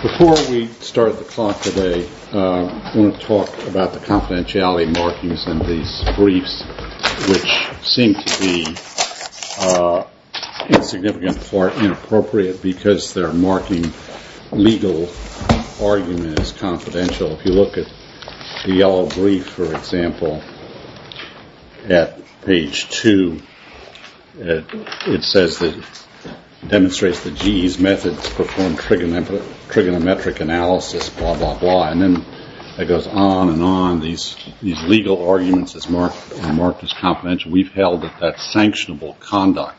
Before we start the talk today, I want to talk about the confidentiality markings in these briefs, which seem to be, in significant part, inappropriate because they're marking legal arguments as confidential. So if you look at the yellow brief, for example, at page 2, it says that it demonstrates that GE's methods perform trigonometric analysis, blah, blah, blah. And then it goes on and on. These legal arguments are marked as confidential. We've held that that's sanctionable conduct.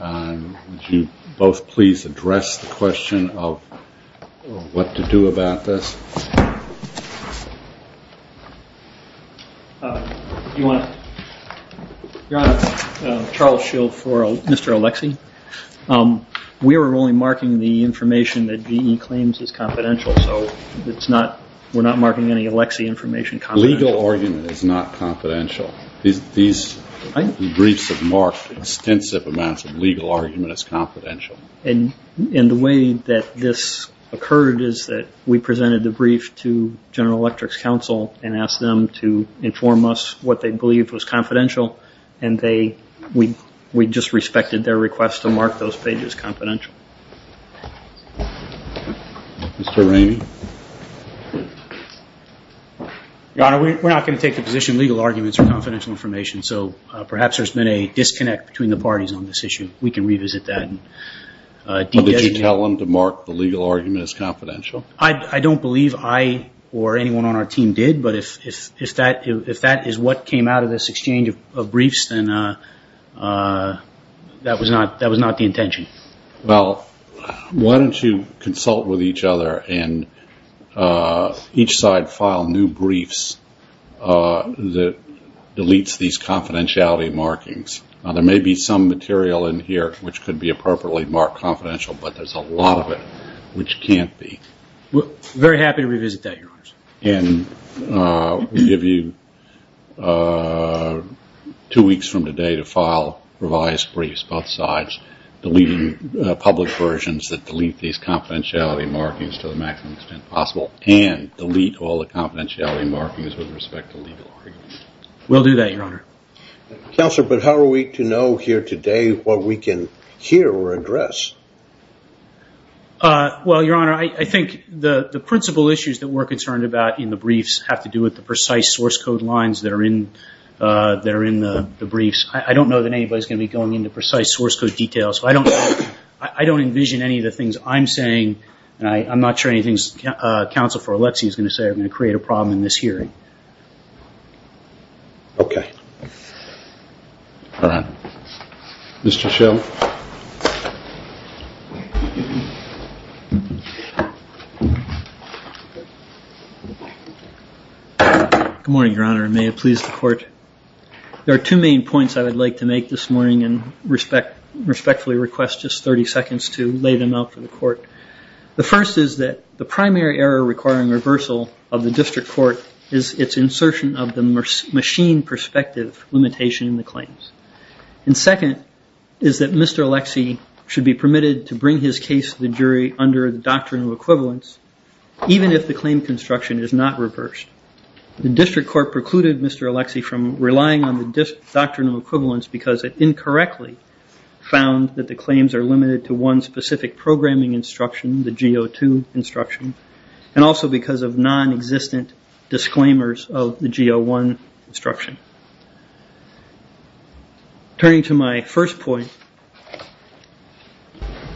Would you both please address the question of what to do about this? Your Honor, Charles Shields for Mr. Oleksy. We were only marking the information that GE claims is confidential, so we're not marking any Oleksy information confidential. Legal argument is not confidential. These briefs have marked extensive amounts of legal argument as confidential. And the way that this occurred is that we presented the brief to General Electric's counsel and asked them to inform us what they believed was confidential, and we just respected their request to mark those pages confidential. Mr. Ramey. Your Honor, we're not going to take the position legal arguments are confidential information, so perhaps there's been a disconnect between the parties on this issue. We can revisit that. Did you tell them to mark the legal argument as confidential? I don't believe I or anyone on our team did, but if that is what came out of this exchange of briefs, then that was not the intention. Well, why don't you consult with each other and each side file new briefs that deletes these confidentiality markings. There may be some material in here which could be appropriately marked confidential, but there's a lot of it which can't be. We're very happy to revisit that, Your Honor. And we'll give you two weeks from today to file revised briefs, both sides, deleting public versions that delete these confidentiality markings to the maximum extent possible, and delete all the confidentiality markings with respect to legal arguments. We'll do that, Your Honor. Counselor, but how are we to know here today what we can hear or address? Well, Your Honor, I think the principal issues that we're concerned about in the briefs have to do with the precise source code lines that are in the briefs. I don't know that anybody's going to be going into precise source code details. I don't envision any of the things I'm saying, and I'm not sure anything Counsel for Alexei is going to say, are going to create a problem in this hearing. Okay. All right. Mr. Schell. Good morning, Your Honor, and may it please the court. There are two main points I would like to make this morning and respectfully request just 30 seconds to lay them out for the court. The first is that the primary error requiring reversal of the district court is its insertion of the machine perspective limitation in the claims. And second is that Mr. Alexei should be permitted to bring his case to the jury under the doctrinal equivalence, even if the claim construction is not reversed. The district court precluded Mr. Alexei from relying on the doctrinal equivalence because it incorrectly found that the claims are limited to one specific programming instruction, the G02 instruction, and also because of nonexistent disclaimers of the G01 instruction. Turning to my first point,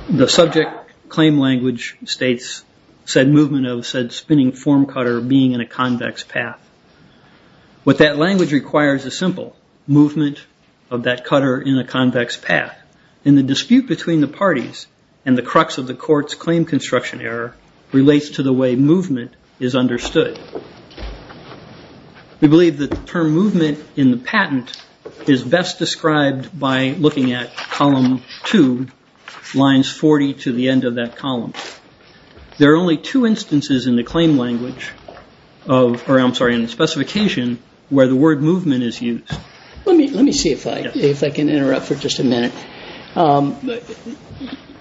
the subject claim language states said movement of said spinning form cutter being in a convex path. What that language requires is simple, movement of that cutter in a convex path. And the dispute between the parties and the crux of the court's claim construction error relates to the way movement is understood. We believe that the term movement in the patent is best described by looking at column two, lines 40 to the end of that column. There are only two instances in the claim language, or I'm sorry, in the specification where the word movement is used. Let me see if I can interrupt for just a minute.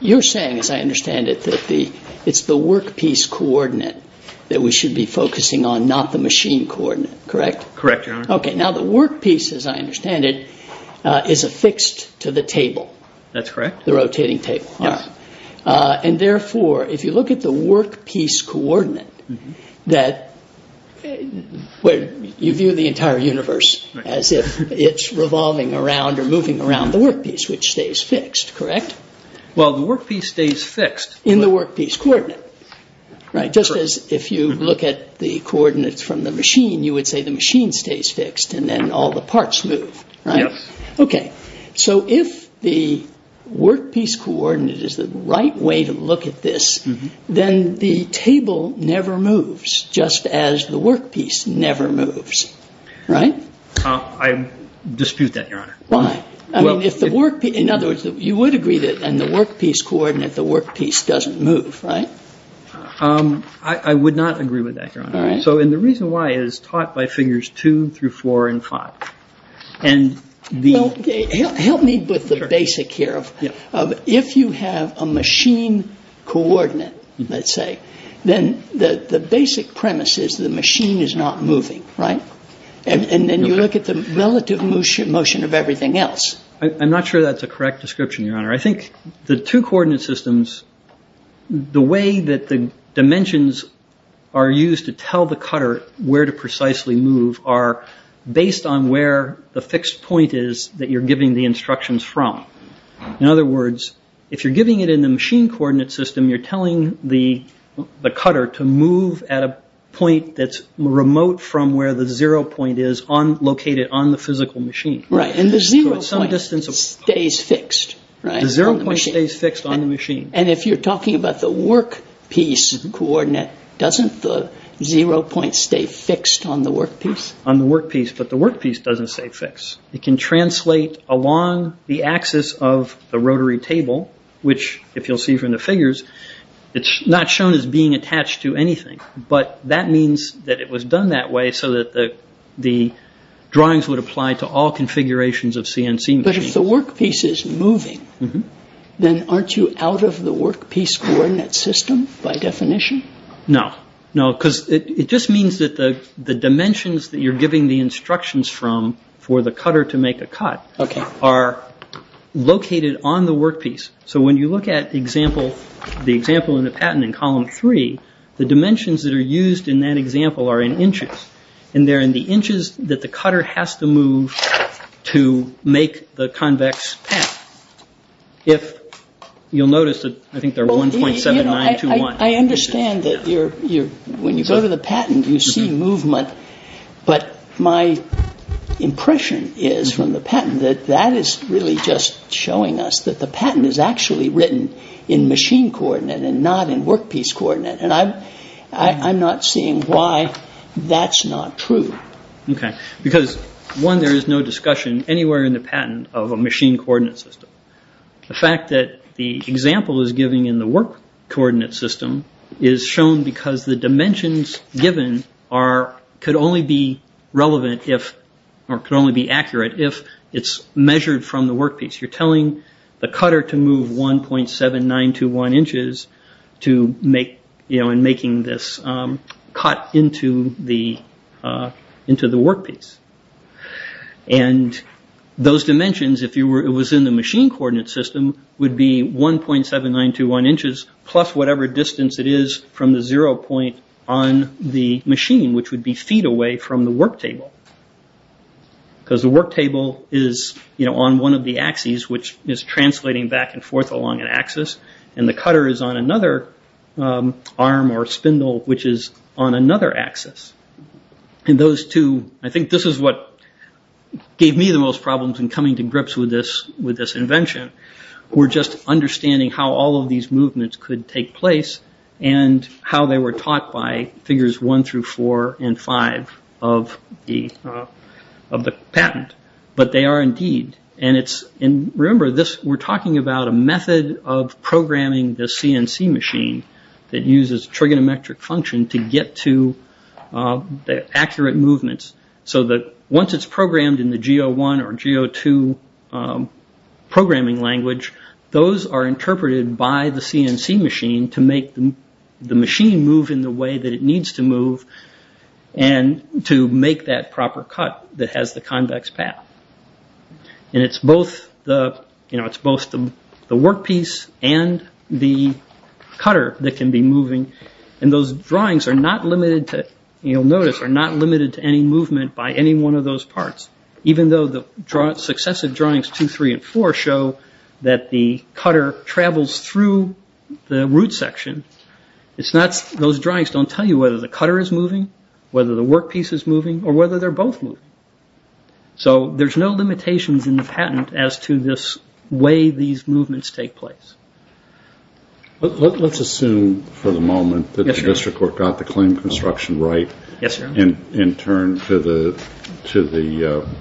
You're saying, as I understand it, that it's the workpiece coordinate that we should be focusing on, not the machine coordinate, correct? Correct, Your Honor. Okay, now the workpiece, as I understand it, is affixed to the table. That's correct. The rotating table. Yes. And therefore, if you look at the workpiece coordinate, you view the entire universe as if it's revolving around or moving around the workpiece, which stays fixed, correct? Well, the workpiece stays fixed. In the workpiece coordinate, right? Just as if you look at the coordinates from the machine, you would say the machine stays fixed and then all the parts move, right? Yes. Okay, so if the workpiece coordinate is the right way to look at this, then the table never moves, just as the workpiece never moves, right? I dispute that, Your Honor. Why? In other words, you would agree that in the workpiece coordinate, the workpiece doesn't move, right? I would not agree with that, Your Honor. All right. So, and the reason why is taught by figures 2 through 4 and 5. Well, help me with the basic here. If you have a machine coordinate, let's say, then the basic premise is the machine is not moving, right? And then you look at the relative motion of everything else. I'm not sure that's a correct description, Your Honor. I think the two coordinate systems, the way that the dimensions are used to tell the cutter where to precisely move, are based on where the fixed point is that you're giving the instructions from. In other words, if you're giving it in the machine coordinate system, you're telling the cutter to move at a point that's remote from where the zero point is located on the physical machine. Right, and the zero point stays fixed, right? The zero point stays fixed on the machine. And if you're talking about the workpiece coordinate, doesn't the zero point stay fixed on the workpiece? On the workpiece, but the workpiece doesn't stay fixed. It can translate along the axis of the rotary table, which, if you'll see from the figures, it's not shown as being attached to anything. But that means that it was done that way so that the drawings would apply to all configurations of CNC machines. But if the workpiece is moving, then aren't you out of the workpiece coordinate system by definition? No, no, because it just means that the dimensions that you're giving the instructions from for the cutter to make a cut are located on the workpiece. So when you look at the example in the patent in column three, the dimensions that are used in that example are in inches. And they're in the inches that the cutter has to move to make the convex path. If you'll notice, I think they're 1.7921. I understand that when you go to the patent, you see movement. But my impression is from the patent that that is really just showing us that the patent is actually written in machine coordinate and not in workpiece coordinate. And I'm not seeing why that's not true. Okay, because one, there is no discussion anywhere in the patent of a machine coordinate system. The fact that the example is given in the work coordinate system is shown because the dimensions given could only be relevant, or could only be accurate, if it's measured from the workpiece. You're telling the cutter to move 1.7921 inches in making this cut into the workpiece. And those dimensions, if it was in the machine coordinate system, would be 1.7921 inches plus whatever distance it is from the zero point on the machine, which would be feet away from the work table. Because the work table is on one of the axes, which is translating back and forth along an axis. And the cutter is on another arm or spindle, which is on another axis. And those two, I think this is what gave me the most problems in coming to grips with this invention, were just understanding how all of these movements could take place and how they were taught by figures one through four and five of the patent. But they are indeed. And remember, we're talking about a method of programming the CNC machine that uses trigonometric function to get to the accurate movements. So that once it's programmed in the G01 or G02 programming language, those are interpreted by the CNC machine to make the machine move in the way that it needs to move and to make that proper cut that has the convex path. And it's both the workpiece and the cutter that can be moving. And those drawings are not limited to any movement by any one of those parts. Even though the successive drawings two, three, and four show that the cutter travels through the root section, those drawings don't tell you whether the cutter is moving, whether the workpiece is moving, or whether they're both moving. So there's no limitations in the patent as to this way these movements take place. Let's assume for the moment that the district court got the claim construction right and turned to the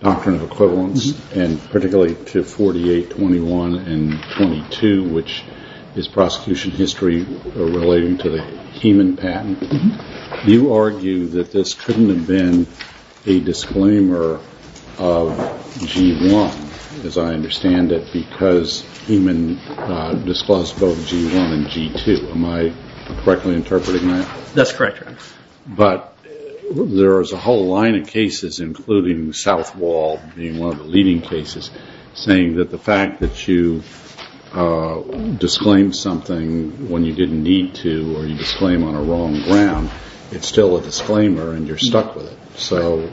doctrine of equivalence, and particularly to 48, 21, and 22, which is prosecution history relating to the Heman patent. You argue that this couldn't have been a disclaimer of G01, as I understand it, because Heman disclosed both G01 and G02. Am I correctly interpreting that? That's correct, Your Honor. But there is a whole line of cases, including Southwall being one of the leading cases, saying that the fact that you disclaim something when you didn't need to or you disclaim on a wrong ground, it's still a disclaimer and you're stuck with it. So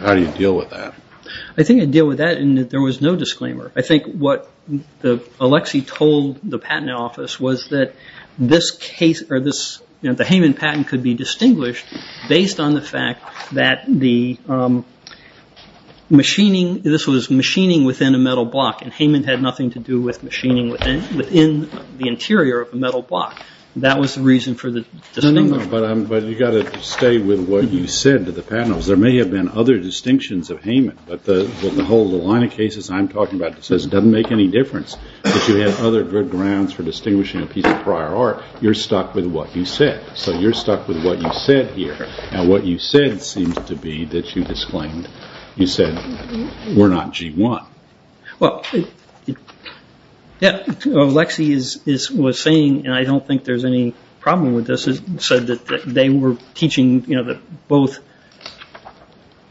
how do you deal with that? I think I deal with that in that there was no disclaimer. I think what Alexei told the patent office was that the Heman patent could be distinguished based on the fact that this was machining within a metal block and Heman had nothing to do with machining within the interior of a metal block. That was the reason for the disclaimer. But you've got to stay with what you said to the patent office. There may have been other distinctions of Heman, but the whole line of cases I'm talking about says it doesn't make any difference that you have other good grounds for distinguishing a piece of prior art. You're stuck with what you said, so you're stuck with what you said here, and what you said seems to be that you said we're not G01. Well, what Alexei was saying, and I don't think there's any problem with this, is that they were teaching that both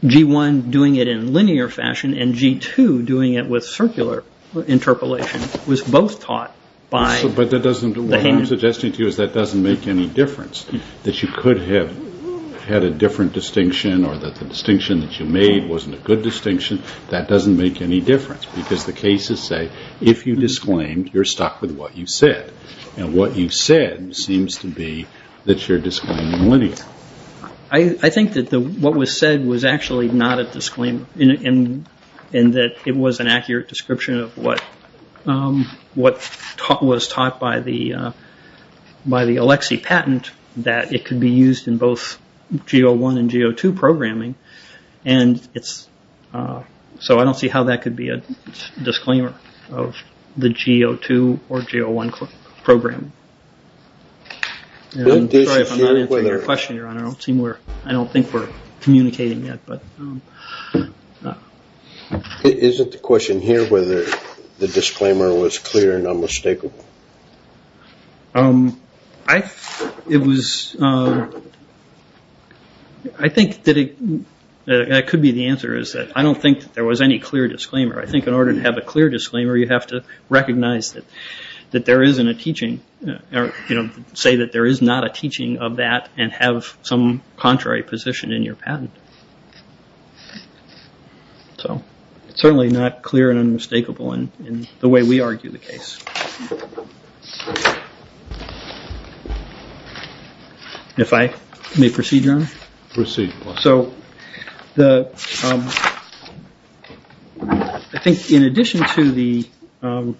G1 doing it in linear fashion and G2 doing it with circular interpolation was both taught by the Heman. But what I'm suggesting to you is that doesn't make any difference, that you could have had a different distinction or that the distinction that you made wasn't a good distinction. That doesn't make any difference because the cases say, if you disclaimed, you're stuck with what you said, and what you said seems to be that you're disclaiming linear. I think that what was said was actually not a disclaimer in that it was an accurate description of what was taught by the Alexei patent that it could be used in both G01 and G02 programming, and so I don't see how that could be a disclaimer of the G02 or G01 program. I'm sorry if I'm not answering your question, Your Honor. I don't think we're communicating yet. Is it the question here whether the disclaimer was clear and unmistakable? I think that it could be the answer. I don't think there was any clear disclaimer. I think in order to have a clear disclaimer, you have to recognize that there isn't a teaching, say that there is not a teaching of that and have some contrary position in your patent. So it's certainly not clear and unmistakable in the way we argue the case. If I may proceed, Your Honor. Proceed. So I think in addition to the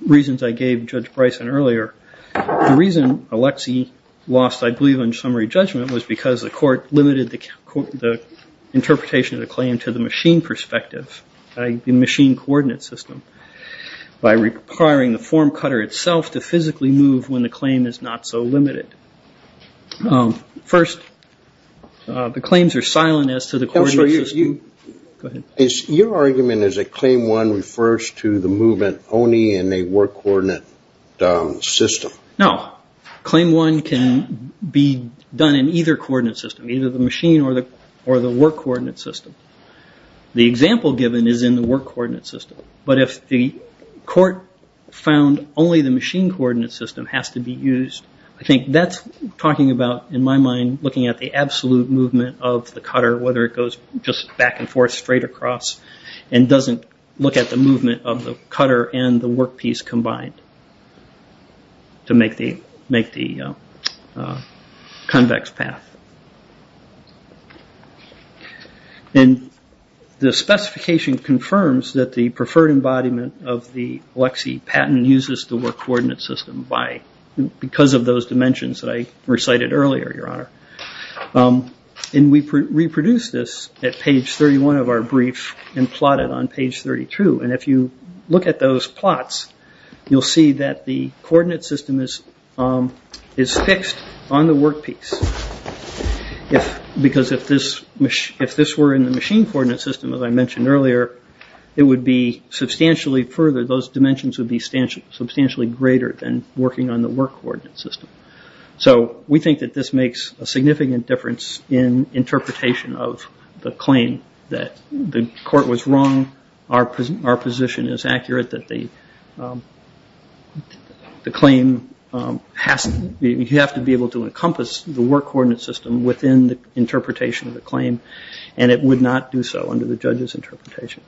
reasons I gave Judge Bryson earlier, the reason Alexei lost, I believe, on summary judgment was because the court limited the interpretation of the claim to the machine perspective, the machine coordinate system, by requiring the form cutter itself to physically move when the claim is not so limited. First, the claims are silent as to the coordinate system. Your argument is that Claim 1 refers to the movement only in a work coordinate system. No. Claim 1 can be done in either coordinate system, either the machine or the work coordinate system. The example given is in the work coordinate system. But if the court found only the machine coordinate system has to be used, I think that's talking about, in my mind, looking at the absolute movement of the cutter, whether it goes just back and forth, straight across, and doesn't look at the movement of the cutter and the workpiece combined to make the convex path. And the specification confirms that the preferred embodiment of the Alexei patent uses the work coordinate system because of those dimensions that I recited earlier, Your Honor. And we reproduced this at page 31 of our brief and plotted on page 32. And if you look at those plots, you'll see that the coordinate system is fixed on the workpiece. Because if this were in the machine coordinate system, as I mentioned earlier, it would be substantially further. Those dimensions would be substantially greater than working on the work coordinate system. So we think that this makes a significant difference in interpretation of the claim, that the court was wrong, our position is accurate, that the claim has to be able to encompass the work coordinate system within the interpretation of the claim, and it would not do so under the judge's interpretation.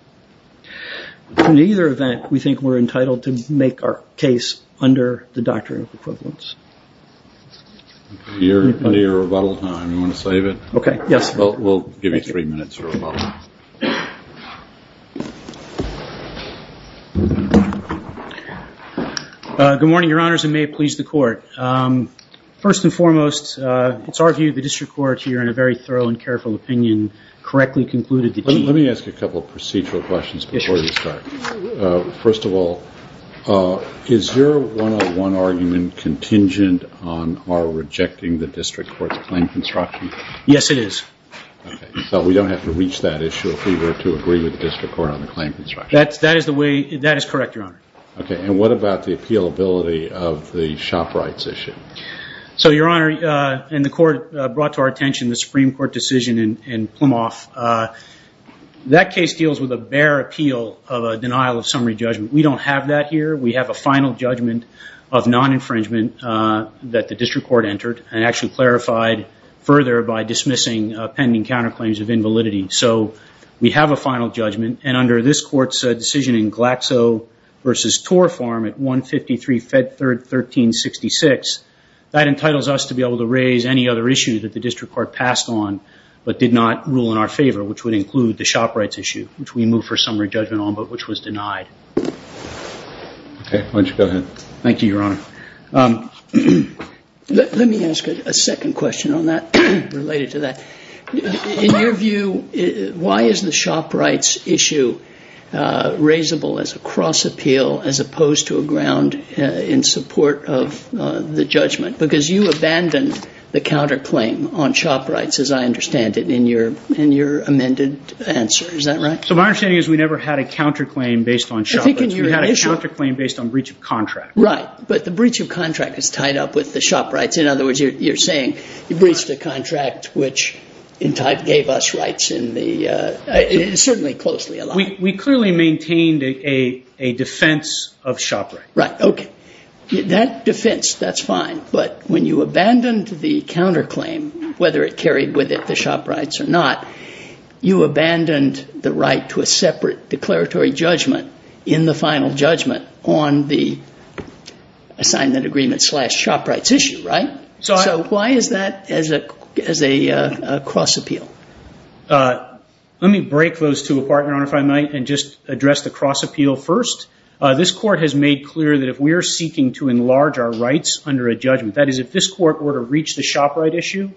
In either event, we think we're entitled to make our case under the doctrine of equivalence. You're under your rebuttal time. You want to save it? Okay, yes. We'll give you three minutes for rebuttal. Good morning, Your Honors, and may it please the Court. First and foremost, it's our view the district court here, in a very thorough and careful opinion, Let me ask you a couple of procedural questions before we start. First of all, is your one-on-one argument contingent on our rejecting the district court's claim construction? Yes, it is. So we don't have to reach that issue if we were to agree with the district court on the claim construction? That is correct, Your Honor. Okay, and what about the appealability of the shop rights issue? So, Your Honor, and the Court brought to our attention the Supreme Court decision in Plymouth. That case deals with a bare appeal of a denial of summary judgment. We don't have that here. We have a final judgment of non-infringement that the district court entered and actually clarified further by dismissing pending counterclaims of invalidity. So we have a final judgment, and under this Court's decision in Glaxo v. Tor Farm at 153 Fed Third 1366, that entitles us to be able to raise any other issue that the district court passed on but did not rule in our favor, which would include the shop rights issue, which we moved for summary judgment on but which was denied. Okay, why don't you go ahead. Thank you, Your Honor. Let me ask a second question on that, related to that. In your view, why is the shop rights issue raisable as a cross appeal as opposed to a ground in support of the judgment? Because you abandoned the counterclaim on shop rights, as I understand it, in your amended answer. Is that right? So my understanding is we never had a counterclaim based on shop rights. We had a counterclaim based on breach of contract. Right, but the breach of contract is tied up with the shop rights. In other words, you're saying you breached a contract which, in type, gave us rights. It is certainly closely aligned. We clearly maintained a defense of shop rights. Right, okay. That defense, that's fine, but when you abandoned the counterclaim, whether it carried with it the shop rights or not, you abandoned the right to a separate declaratory judgment in the final judgment on the assignment agreement slash shop rights issue, right? So why is that as a cross appeal? Let me break those two apart, Your Honor, if I might, and just address the cross appeal first. This Court has made clear that if we are seeking to enlarge our rights under a judgment, that is if this Court were to reach the shop rights issue,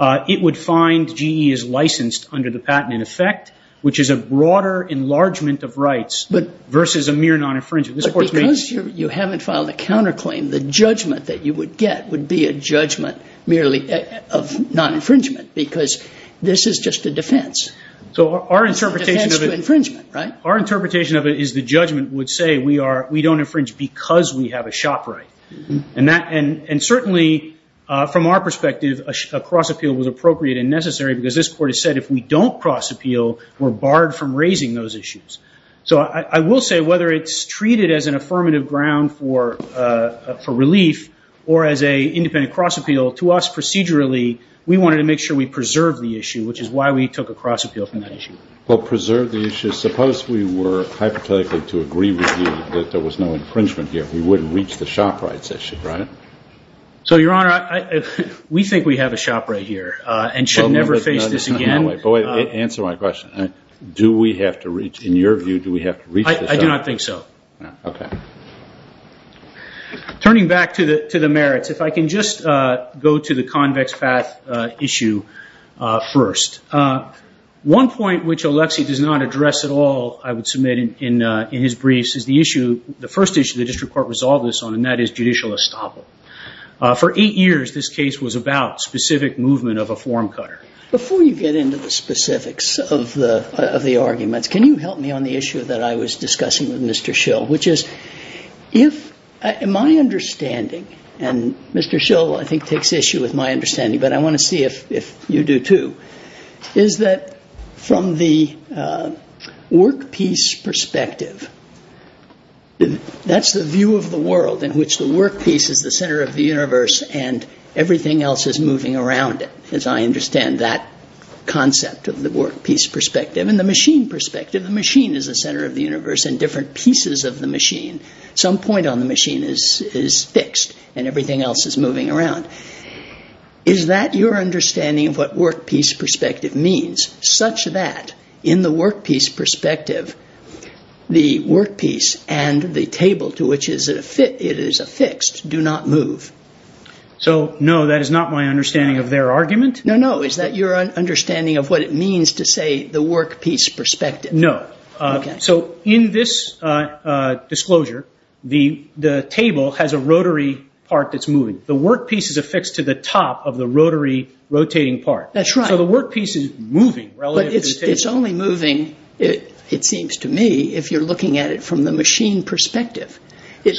it would find GE is licensed under the patent in effect, which is a broader enlargement of rights versus a mere non-infringement. But because you haven't filed a counterclaim, the judgment that you would get would be a judgment merely of non-infringement because this is just a defense. It's a defense to infringement, right? Our interpretation of it is the judgment would say we don't infringe because we have a shop right. And certainly, from our perspective, a cross appeal was appropriate and necessary because this Court has said if we don't cross appeal, we're barred from raising those issues. So I will say whether it's treated as an affirmative ground for relief or as an independent cross appeal, to us procedurally, we wanted to make sure we preserved the issue, which is why we took a cross appeal from that issue. Well, preserve the issue. Suppose we were hypothetically to agree with you that there was no infringement here. We wouldn't reach the shop rights issue, right? So, Your Honor, we think we have a shop right here and should never face this again. Answer my question. Do we have to reach, in your view, do we have to reach the shop? I do not think so. Okay. Turning back to the merits, if I can just go to the convex path issue first. One point which Alexi does not address at all, I would submit in his briefs, is the issue, the first issue the district court resolved this on, and that is judicial estoppel. For eight years, this case was about specific movement of a form cutter. Before you get into the specifics of the arguments, can you help me on the issue that I was discussing with Mr. Schill, which is if my understanding, and Mr. Schill, I think, takes issue with my understanding, but I want to see if you do too, is that from the work piece perspective, that's the view of the world in which the work piece is the center of the universe and everything else is moving around it, as I understand that concept of the work piece perspective. In the machine perspective, the machine is the center of the universe and different pieces of the machine, some point on the machine is fixed and everything else is moving around. Is that your understanding of what work piece perspective means, such that in the work piece perspective, the work piece and the table to which it is affixed do not move? So no, that is not my understanding of their argument. No, no, is that your understanding of what it means to say the work piece perspective? No. Okay. So in this disclosure, the table has a rotary part that's moving. The work piece is affixed to the top of the rotary rotating part. That's right. So the work piece is moving relative to the table. But it's only moving, it seems to me, if you're looking at it from the machine perspective.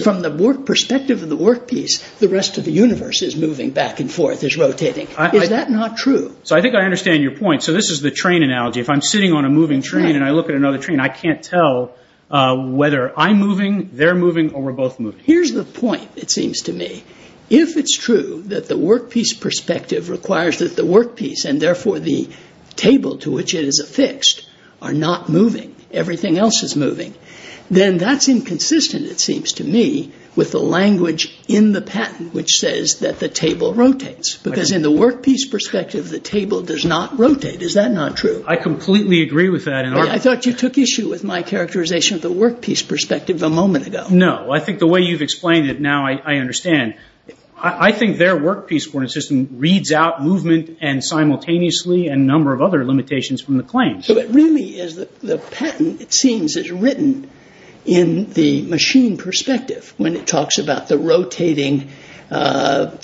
From the perspective of the work piece, the rest of the universe is moving back and forth, is rotating. Is that not true? So I think I understand your point. So this is the train analogy. If I'm sitting on a moving train and I look at another train, I can't tell whether I'm moving, they're moving, or we're both moving. Here's the point, it seems to me. If it's true that the work piece perspective requires that the work piece, and therefore the table to which it is affixed, are not moving, everything else is moving, then that's inconsistent, it seems to me, with the language in the patent which says that the table rotates. Because in the work piece perspective, the table does not rotate. Is that not true? I completely agree with that. I thought you took issue with my characterization of the work piece perspective a moment ago. No. Well, I think the way you've explained it now, I understand. I think their work piece coordinate system reads out movement and simultaneously and a number of other limitations from the claim. So it really is the patent, it seems, is written in the machine perspective when it talks about the rotating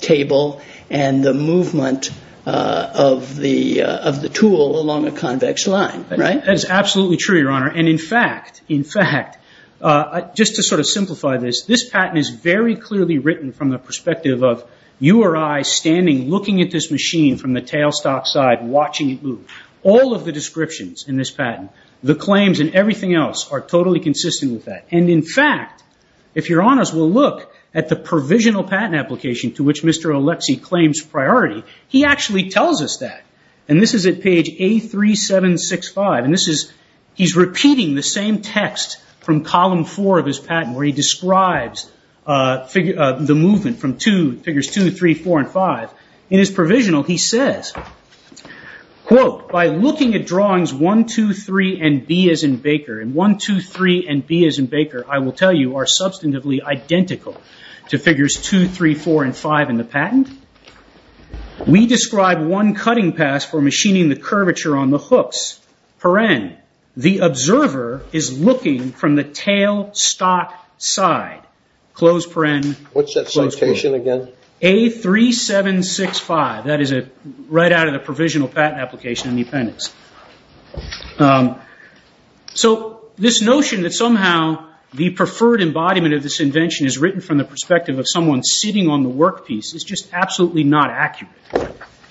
table and the movement of the tool along a convex line, right? That is absolutely true, Your Honor. In fact, just to sort of simplify this, this patent is very clearly written from the perspective of you or I standing looking at this machine from the tailstock side, watching it move. All of the descriptions in this patent, the claims and everything else, are totally consistent with that. In fact, if you're honest, we'll look at the provisional patent application to which Mr. Oleksii claims priority. He actually tells us that. This is at page A3765. And he's repeating the same text from column four of his patent where he describes the movement from figures two, three, four, and five. In his provisional, he says, quote, By looking at drawings one, two, three, and B as in Baker, and one, two, three, and B as in Baker, I will tell you, are substantively identical to figures two, three, four, and five in the patent. We describe one cutting pass for machining the curvature on the hooks. The observer is looking from the tailstock side. What's that citation again? A3765. That is right out of the provisional patent application in the appendix. So this notion that somehow the preferred embodiment of this invention is written from the perspective of someone sitting on the workpiece is just absolutely not accurate.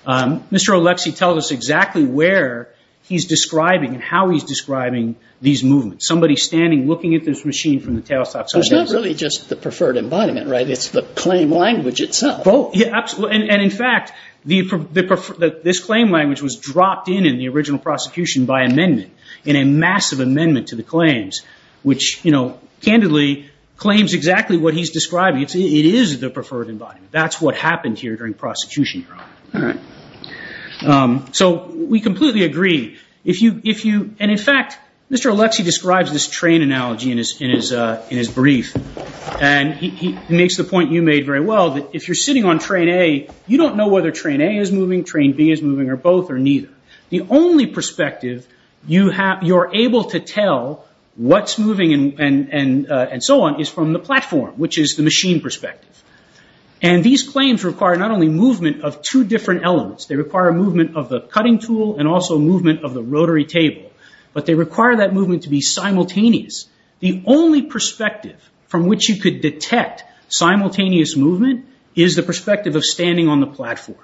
Mr. Oleksii tells us exactly where he's describing and how he's describing these movements. Somebody standing looking at this machine from the tailstock side. It's not really just the preferred embodiment, right? It's the claim language itself. Yeah, absolutely. And, in fact, this claim language was dropped in in the original prosecution by amendment in a massive amendment to the claims, which, you know, candidly claims exactly what he's describing. It is the preferred embodiment. That's what happened here during prosecution, Your Honor. So we completely agree. And, in fact, Mr. Oleksii describes this train analogy in his brief. And he makes the point you made very well that if you're sitting on train A, you don't know whether train A is moving, train B is moving, or both, or neither. The only perspective you're able to tell what's moving and so on is from the platform, which is the machine perspective. And these claims require not only movement of two different elements. They require movement of the cutting tool and also movement of the rotary table. But they require that movement to be simultaneous. The only perspective from which you could detect simultaneous movement is the perspective of standing on the platform.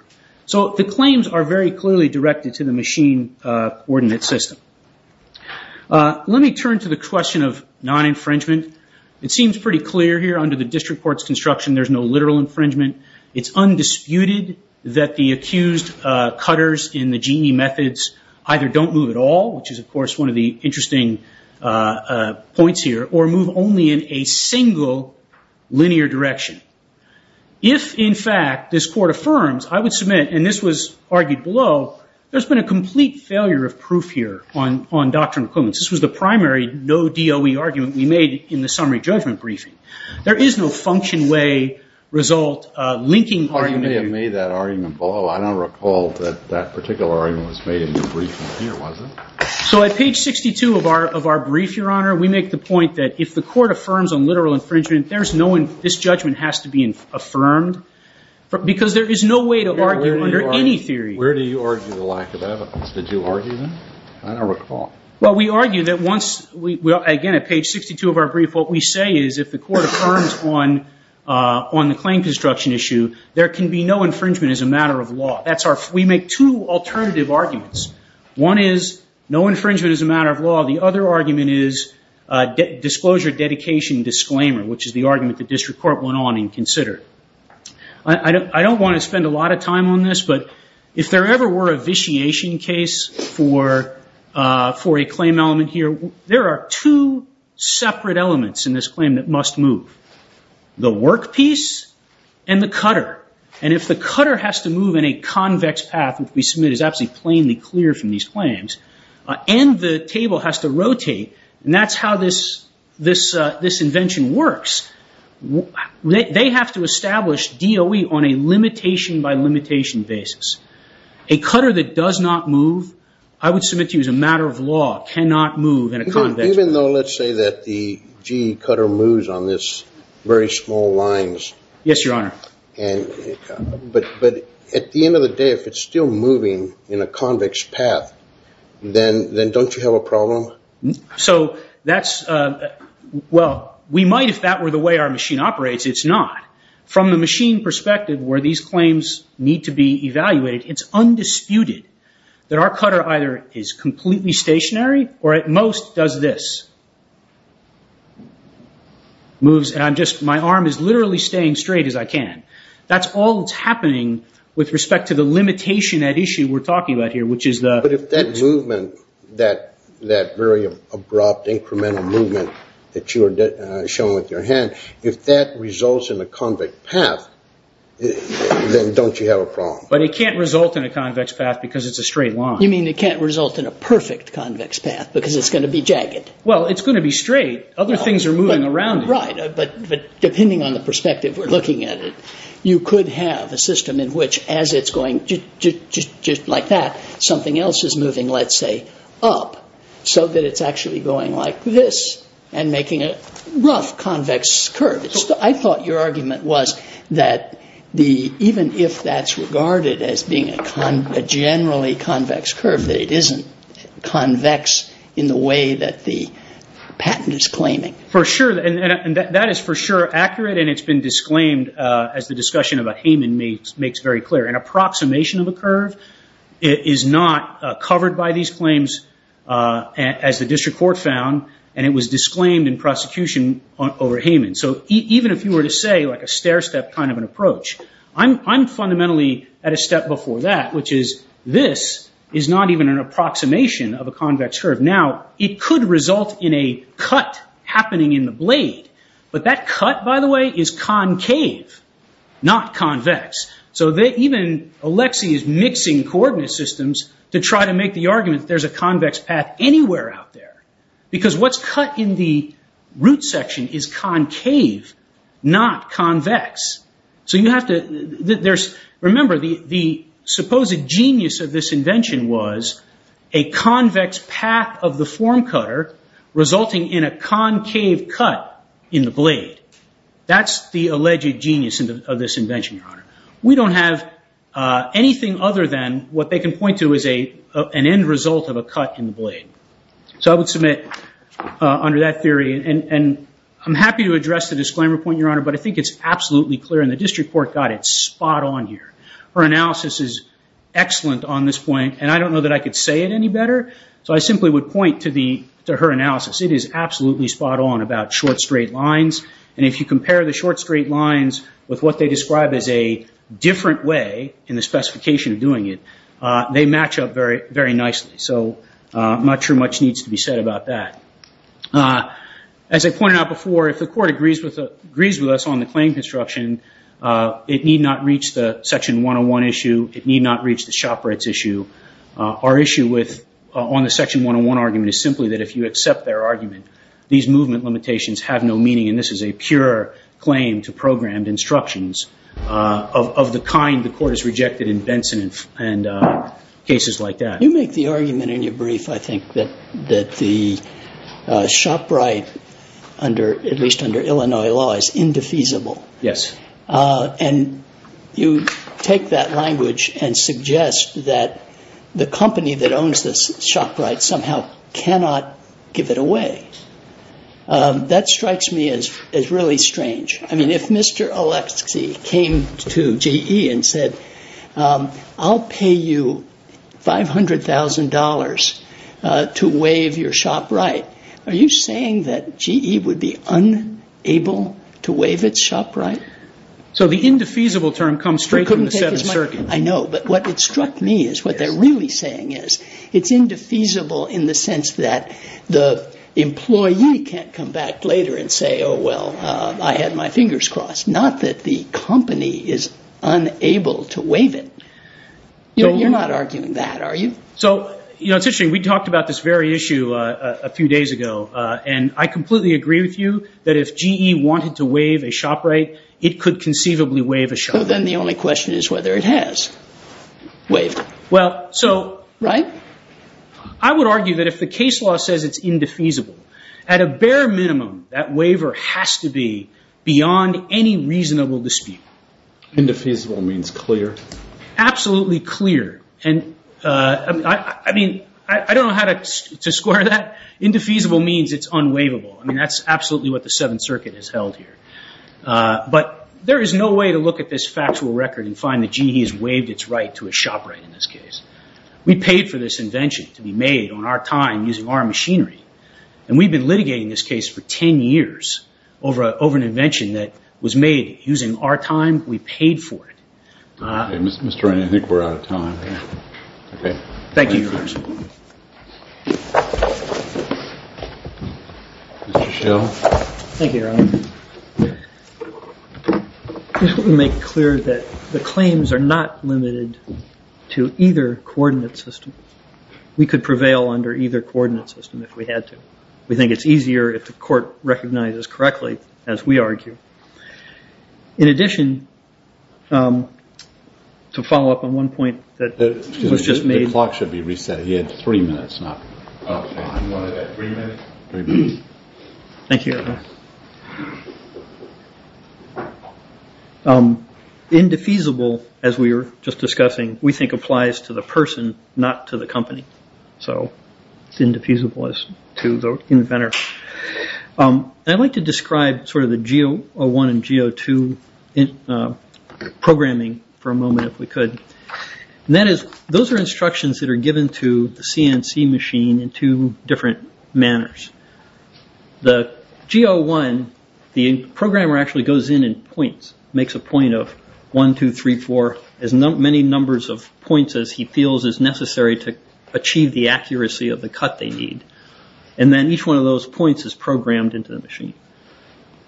So the claims are very clearly directed to the machine coordinate system. Let me turn to the question of non-infringement. It seems pretty clear here under the district court's construction there's no literal infringement. It's undisputed that the accused cutters in the genie methods either don't move at all, which is, of course, one of the interesting points here, or move only in a single linear direction. If, in fact, this court affirms, I would submit, and this was argued below, there's been a complete failure of proof here on doctrinal equivalence. This was the primary no DOE argument we made in the summary judgment briefing. There is no function way result linking argument. Well, you may have made that argument below. I don't recall that that particular argument was made in your briefing here, was it? So at page 62 of our brief, Your Honor, we make the point that if the court affirms on literal infringement, this judgment has to be affirmed because there is no way to argue under any theory. Where do you argue the lack of evidence? Did you argue that? I don't recall. Well, we argue that once, again, at page 62 of our brief, what we say is if the court affirms on the claim construction issue, there can be no infringement as a matter of law. We make two alternative arguments. One is no infringement as a matter of law. The other argument is disclosure, dedication, disclaimer, which is the argument the district court went on and considered. I don't want to spend a lot of time on this, but if there ever were a vitiation case for a claim element here, there are two separate elements in this claim that must move, the workpiece and the cutter. And if the cutter has to move in a convex path, which we submit is absolutely plainly clear from these claims, and the table has to rotate, and that's how this invention works, they have to establish DOE on a limitation by limitation basis. A cutter that does not move, I would submit to you as a matter of law, cannot move in a convex path. Even though let's say that the G cutter moves on this very small lines. Yes, Your Honor. But at the end of the day, if it's still moving in a convex path, then don't you have a problem? So that's, well, we might if that were the way our machine operates. It's not. From the machine perspective where these claims need to be evaluated, it's undisputed that our cutter either is completely stationary or at most does this. Moves, and I'm just, my arm is literally staying straight as I can. That's all that's happening with respect to the limitation at issue we're talking about here, which is the- But if that movement, that very abrupt incremental movement that you are showing with your hand, if that results in a convex path, then don't you have a problem? But it can't result in a convex path because it's a straight line. You mean it can't result in a perfect convex path because it's going to be jagged? Well, it's going to be straight. Other things are moving around it. Right, but depending on the perspective we're looking at, you could have a system in which as it's going just like that, something else is moving, let's say, up, so that it's actually going like this and making a rough convex curve. I thought your argument was that even if that's regarded as being a generally convex curve, that it isn't convex in the way that the patent is claiming. For sure, and that is for sure accurate, and it's been disclaimed as the discussion about Hayman makes very clear. An approximation of a curve is not covered by these claims as the district court found, and it was disclaimed in prosecution over Hayman. So even if you were to say like a stair-step kind of an approach, I'm fundamentally at a step before that, which is this is not even an approximation of a convex curve. Now, it could result in a cut happening in the blade, but that cut, by the way, is concave, not convex. So even Alexei is mixing coordinate systems to try to make the argument that there's a convex path anywhere out there, because what's cut in the root section is concave, not convex. Remember, the supposed genius of this invention was a convex path of the form cutter resulting in a concave cut in the blade. That's the alleged genius of this invention, Your Honor. We don't have anything other than what they can point to as an end result of a cut in the blade. So I would submit under that theory, and I'm happy to address the disclaimer point, Your Honor, but I think it's absolutely clear, and the district court got it spot on here. Her analysis is excellent on this point, and I don't know that I could say it any better, so I simply would point to her analysis. It is absolutely spot on about short, straight lines, and if you compare the short, straight lines with what they describe as a different way in the specification of doing it, they match up very nicely. So I'm not sure much needs to be said about that. As I pointed out before, if the court agrees with us on the claim construction, it need not reach the Section 101 issue. It need not reach the shopper at issue. Our issue on the Section 101 argument is simply that if you accept their argument, these movement limitations have no meaning, and this is a pure claim to programmed instructions of the kind the court has rejected in Benson and cases like that. You make the argument in your brief, I think, that the shop right, at least under Illinois law, is indefeasible. Yes. And you take that language and suggest that the company that owns the shop right somehow cannot give it away. That strikes me as really strange. I mean, if Mr. Oleksii came to GE and said, I'll pay you $500,000 to waive your shop right, are you saying that GE would be unable to waive its shop right? So the indefeasible term comes straight from the set of circuits. I know, but what struck me is what they're really saying is it's indefeasible in the sense that the employee can't come back later and say, oh, well, I had my fingers crossed, not that the company is unable to waive it. You're not arguing that, are you? So, you know, it's interesting. We talked about this very issue a few days ago, and I completely agree with you that if GE wanted to waive a shop right, it could conceivably waive a shop right. But then the only question is whether it has waived it. Well, so I would argue that if the case law says it's indefeasible, at a bare minimum that waiver has to be beyond any reasonable dispute. Indefeasible means clear. Absolutely clear. I mean, I don't know how to square that. Indefeasible means it's unwaivable. I mean, that's absolutely what the Seventh Circuit has held here. But there is no way to look at this factual record and find that GE has waived its right to a shop right in this case. We paid for this invention to be made on our time, using our machinery. And we've been litigating this case for 10 years over an invention that was made using our time. We paid for it. Mr. Rennie, I think we're out of time. Thank you, Your Honor. Mr. Schill. Thank you, Your Honor. I just want to make clear that the claims are not limited to either coordinate system. We could prevail under either coordinate system if we had to. We think it's easier if the court recognizes correctly, as we argue. In addition, to follow up on one point that was just made. The clock should be reset. He had three minutes, not one. Three minutes? Thank you, Your Honor. Indefeasible, as we were just discussing, we think applies to the person, not to the company. So it's indefeasible to the inventor. I'd like to describe sort of the G01 and G02 programming for a moment, if we could. Those are instructions that are given to the CNC machine in two different manners. The G01, the programmer actually goes in and points, makes a point of one, two, three, four, as many numbers of points as he feels is necessary to achieve the accuracy of the cut they need. And then each one of those points is programmed into the machine.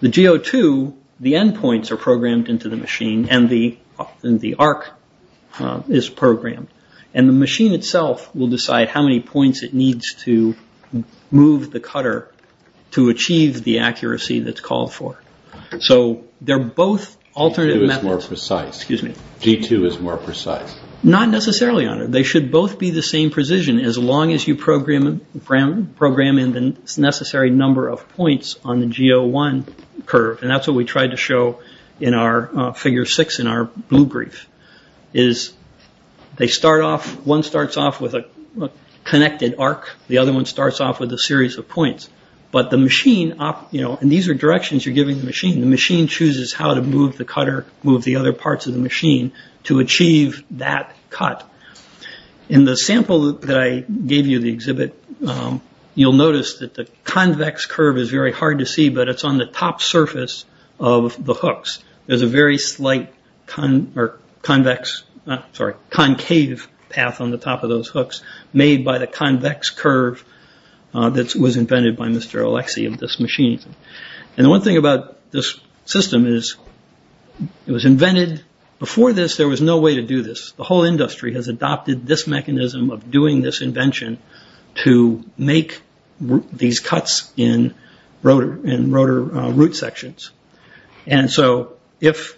The G02, the end points are programmed into the machine, and the arc is programmed. And the machine itself will decide how many points it needs to move the cutter to achieve the accuracy that's called for. So they're both alternate methods. G02 is more precise. Excuse me? G02 is more precise. Not necessarily, Your Honor. They should both be the same precision, as long as you program in the necessary number of points on the G01 curve. And that's what we tried to show in our figure six in our blue brief, is they start off, one starts off with a connected arc. The other one starts off with a series of points. But the machine, you know, and these are directions you're giving the machine. The machine chooses how to move the cutter, move the other parts of the machine to achieve that cut. In the sample that I gave you, the exhibit, you'll notice that the convex curve is very hard to see, but it's on the top surface of the hooks. There's a very slight concave path on the top of those hooks made by the convex curve that was invented by Mr. Alexey of this machine. And the one thing about this system is it was invented before this there was no way to do this. The whole industry has adopted this mechanism of doing this invention to make these cuts in rotor root sections. And so if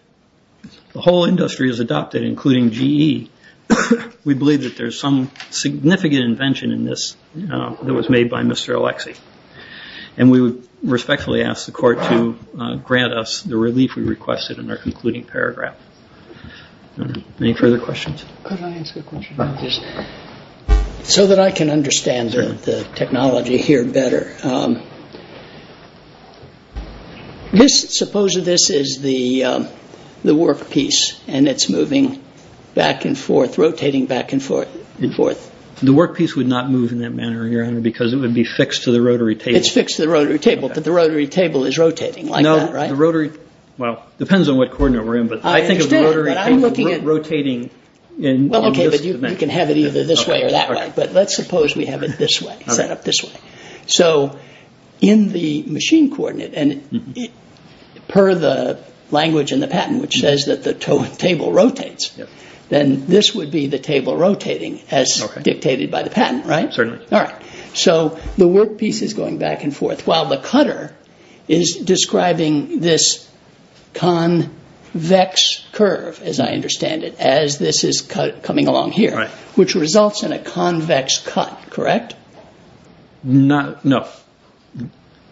the whole industry has adopted, including GE, we believe that there's some significant invention in this that was made by Mr. Alexey. And we respectfully ask the Court to grant us the relief we requested in our concluding paragraph. Any further questions? So that I can understand the technology here better. Suppose this is the workpiece and it's moving back and forth, rotating back and forth and forth. The workpiece would not move in that manner because it would be fixed to the rotary table. It's fixed to the rotary table, but the rotary table is rotating like that, right? Well, it depends on what coordinate we're in, but I think of the rotary table rotating in this direction. Well, OK, but you can have it either this way or that way. But let's suppose we have it this way, set up this way. So in the machine coordinate, and per the language in the patent, which says that the table rotates, then this would be the table rotating as dictated by the patent, right? Certainly. All right. So the workpiece is going back and forth while the cutter is describing this convex curve, as I understand it, as this is coming along here, which results in a convex cut, correct? No.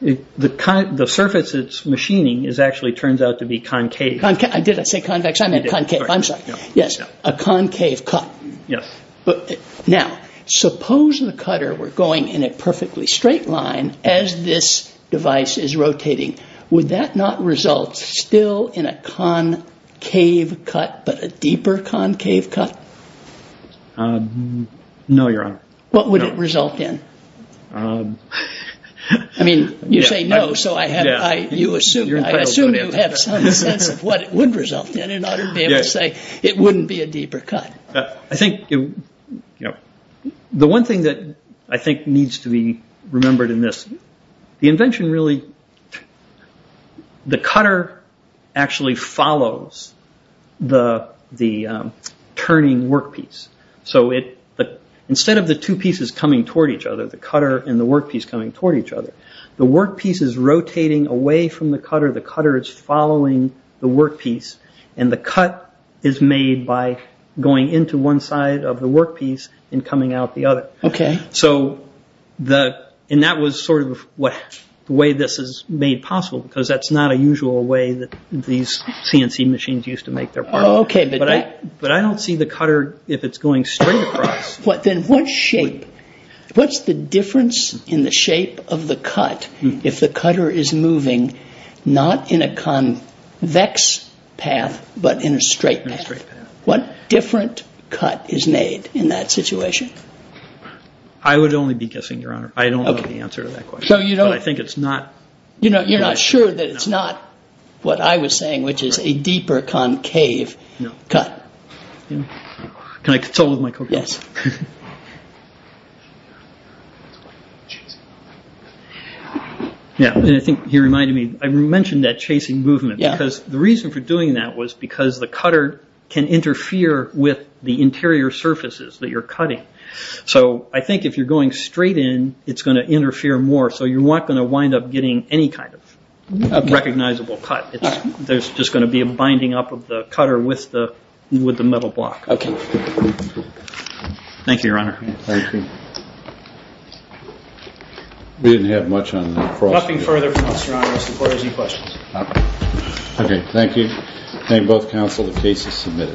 The surface it's machining actually turns out to be concave. Did I say convex? I meant concave. I'm sorry. Yes, a concave cut. Yes. Now, suppose the cutter were going in a perfectly straight line as this device is rotating. Would that not result still in a concave cut, but a deeper concave cut? No, Your Honor. What would it result in? I mean, you say no, so I assume you have some sense of what it would result in in order to be able to say it wouldn't be a deeper cut. I think the one thing that I think needs to be remembered in this, the invention really, the cutter actually follows the turning workpiece. So instead of the two pieces coming toward each other, the cutter and the workpiece coming toward each other, the workpiece is rotating away from the cutter, the cutter is following the workpiece, and the cut is made by going into one side of the workpiece and coming out the other. Okay. And that was sort of the way this is made possible, because that's not a usual way that these CNC machines used to make their part. Oh, okay. But I don't see the cutter, if it's going straight across. Then what shape, what's the difference in the shape of the cut if the cutter is moving, not in a convex path, but in a straight path? In a straight path. What different cut is made in that situation? I would only be guessing, Your Honor. I don't know the answer to that question. Okay. So you don't- But I think it's not- You're not sure that it's not what I was saying, which is a deeper concave cut. No. Can I control with my coat? Yes. Okay. Yeah, and I think he reminded me, I mentioned that chasing movement, because the reason for doing that was because the cutter can interfere with the interior surfaces that you're cutting. So I think if you're going straight in, it's going to interfere more, so you're not going to wind up getting any kind of recognizable cut. There's just going to be a binding up of the cutter with the metal block. Okay. Thank you, Your Honor. Thank you. We didn't have much on the cross- Nothing further from us, Your Honor. Mr. Porter, any questions? Okay. Thank you. Thank both counsel. The case is submitted.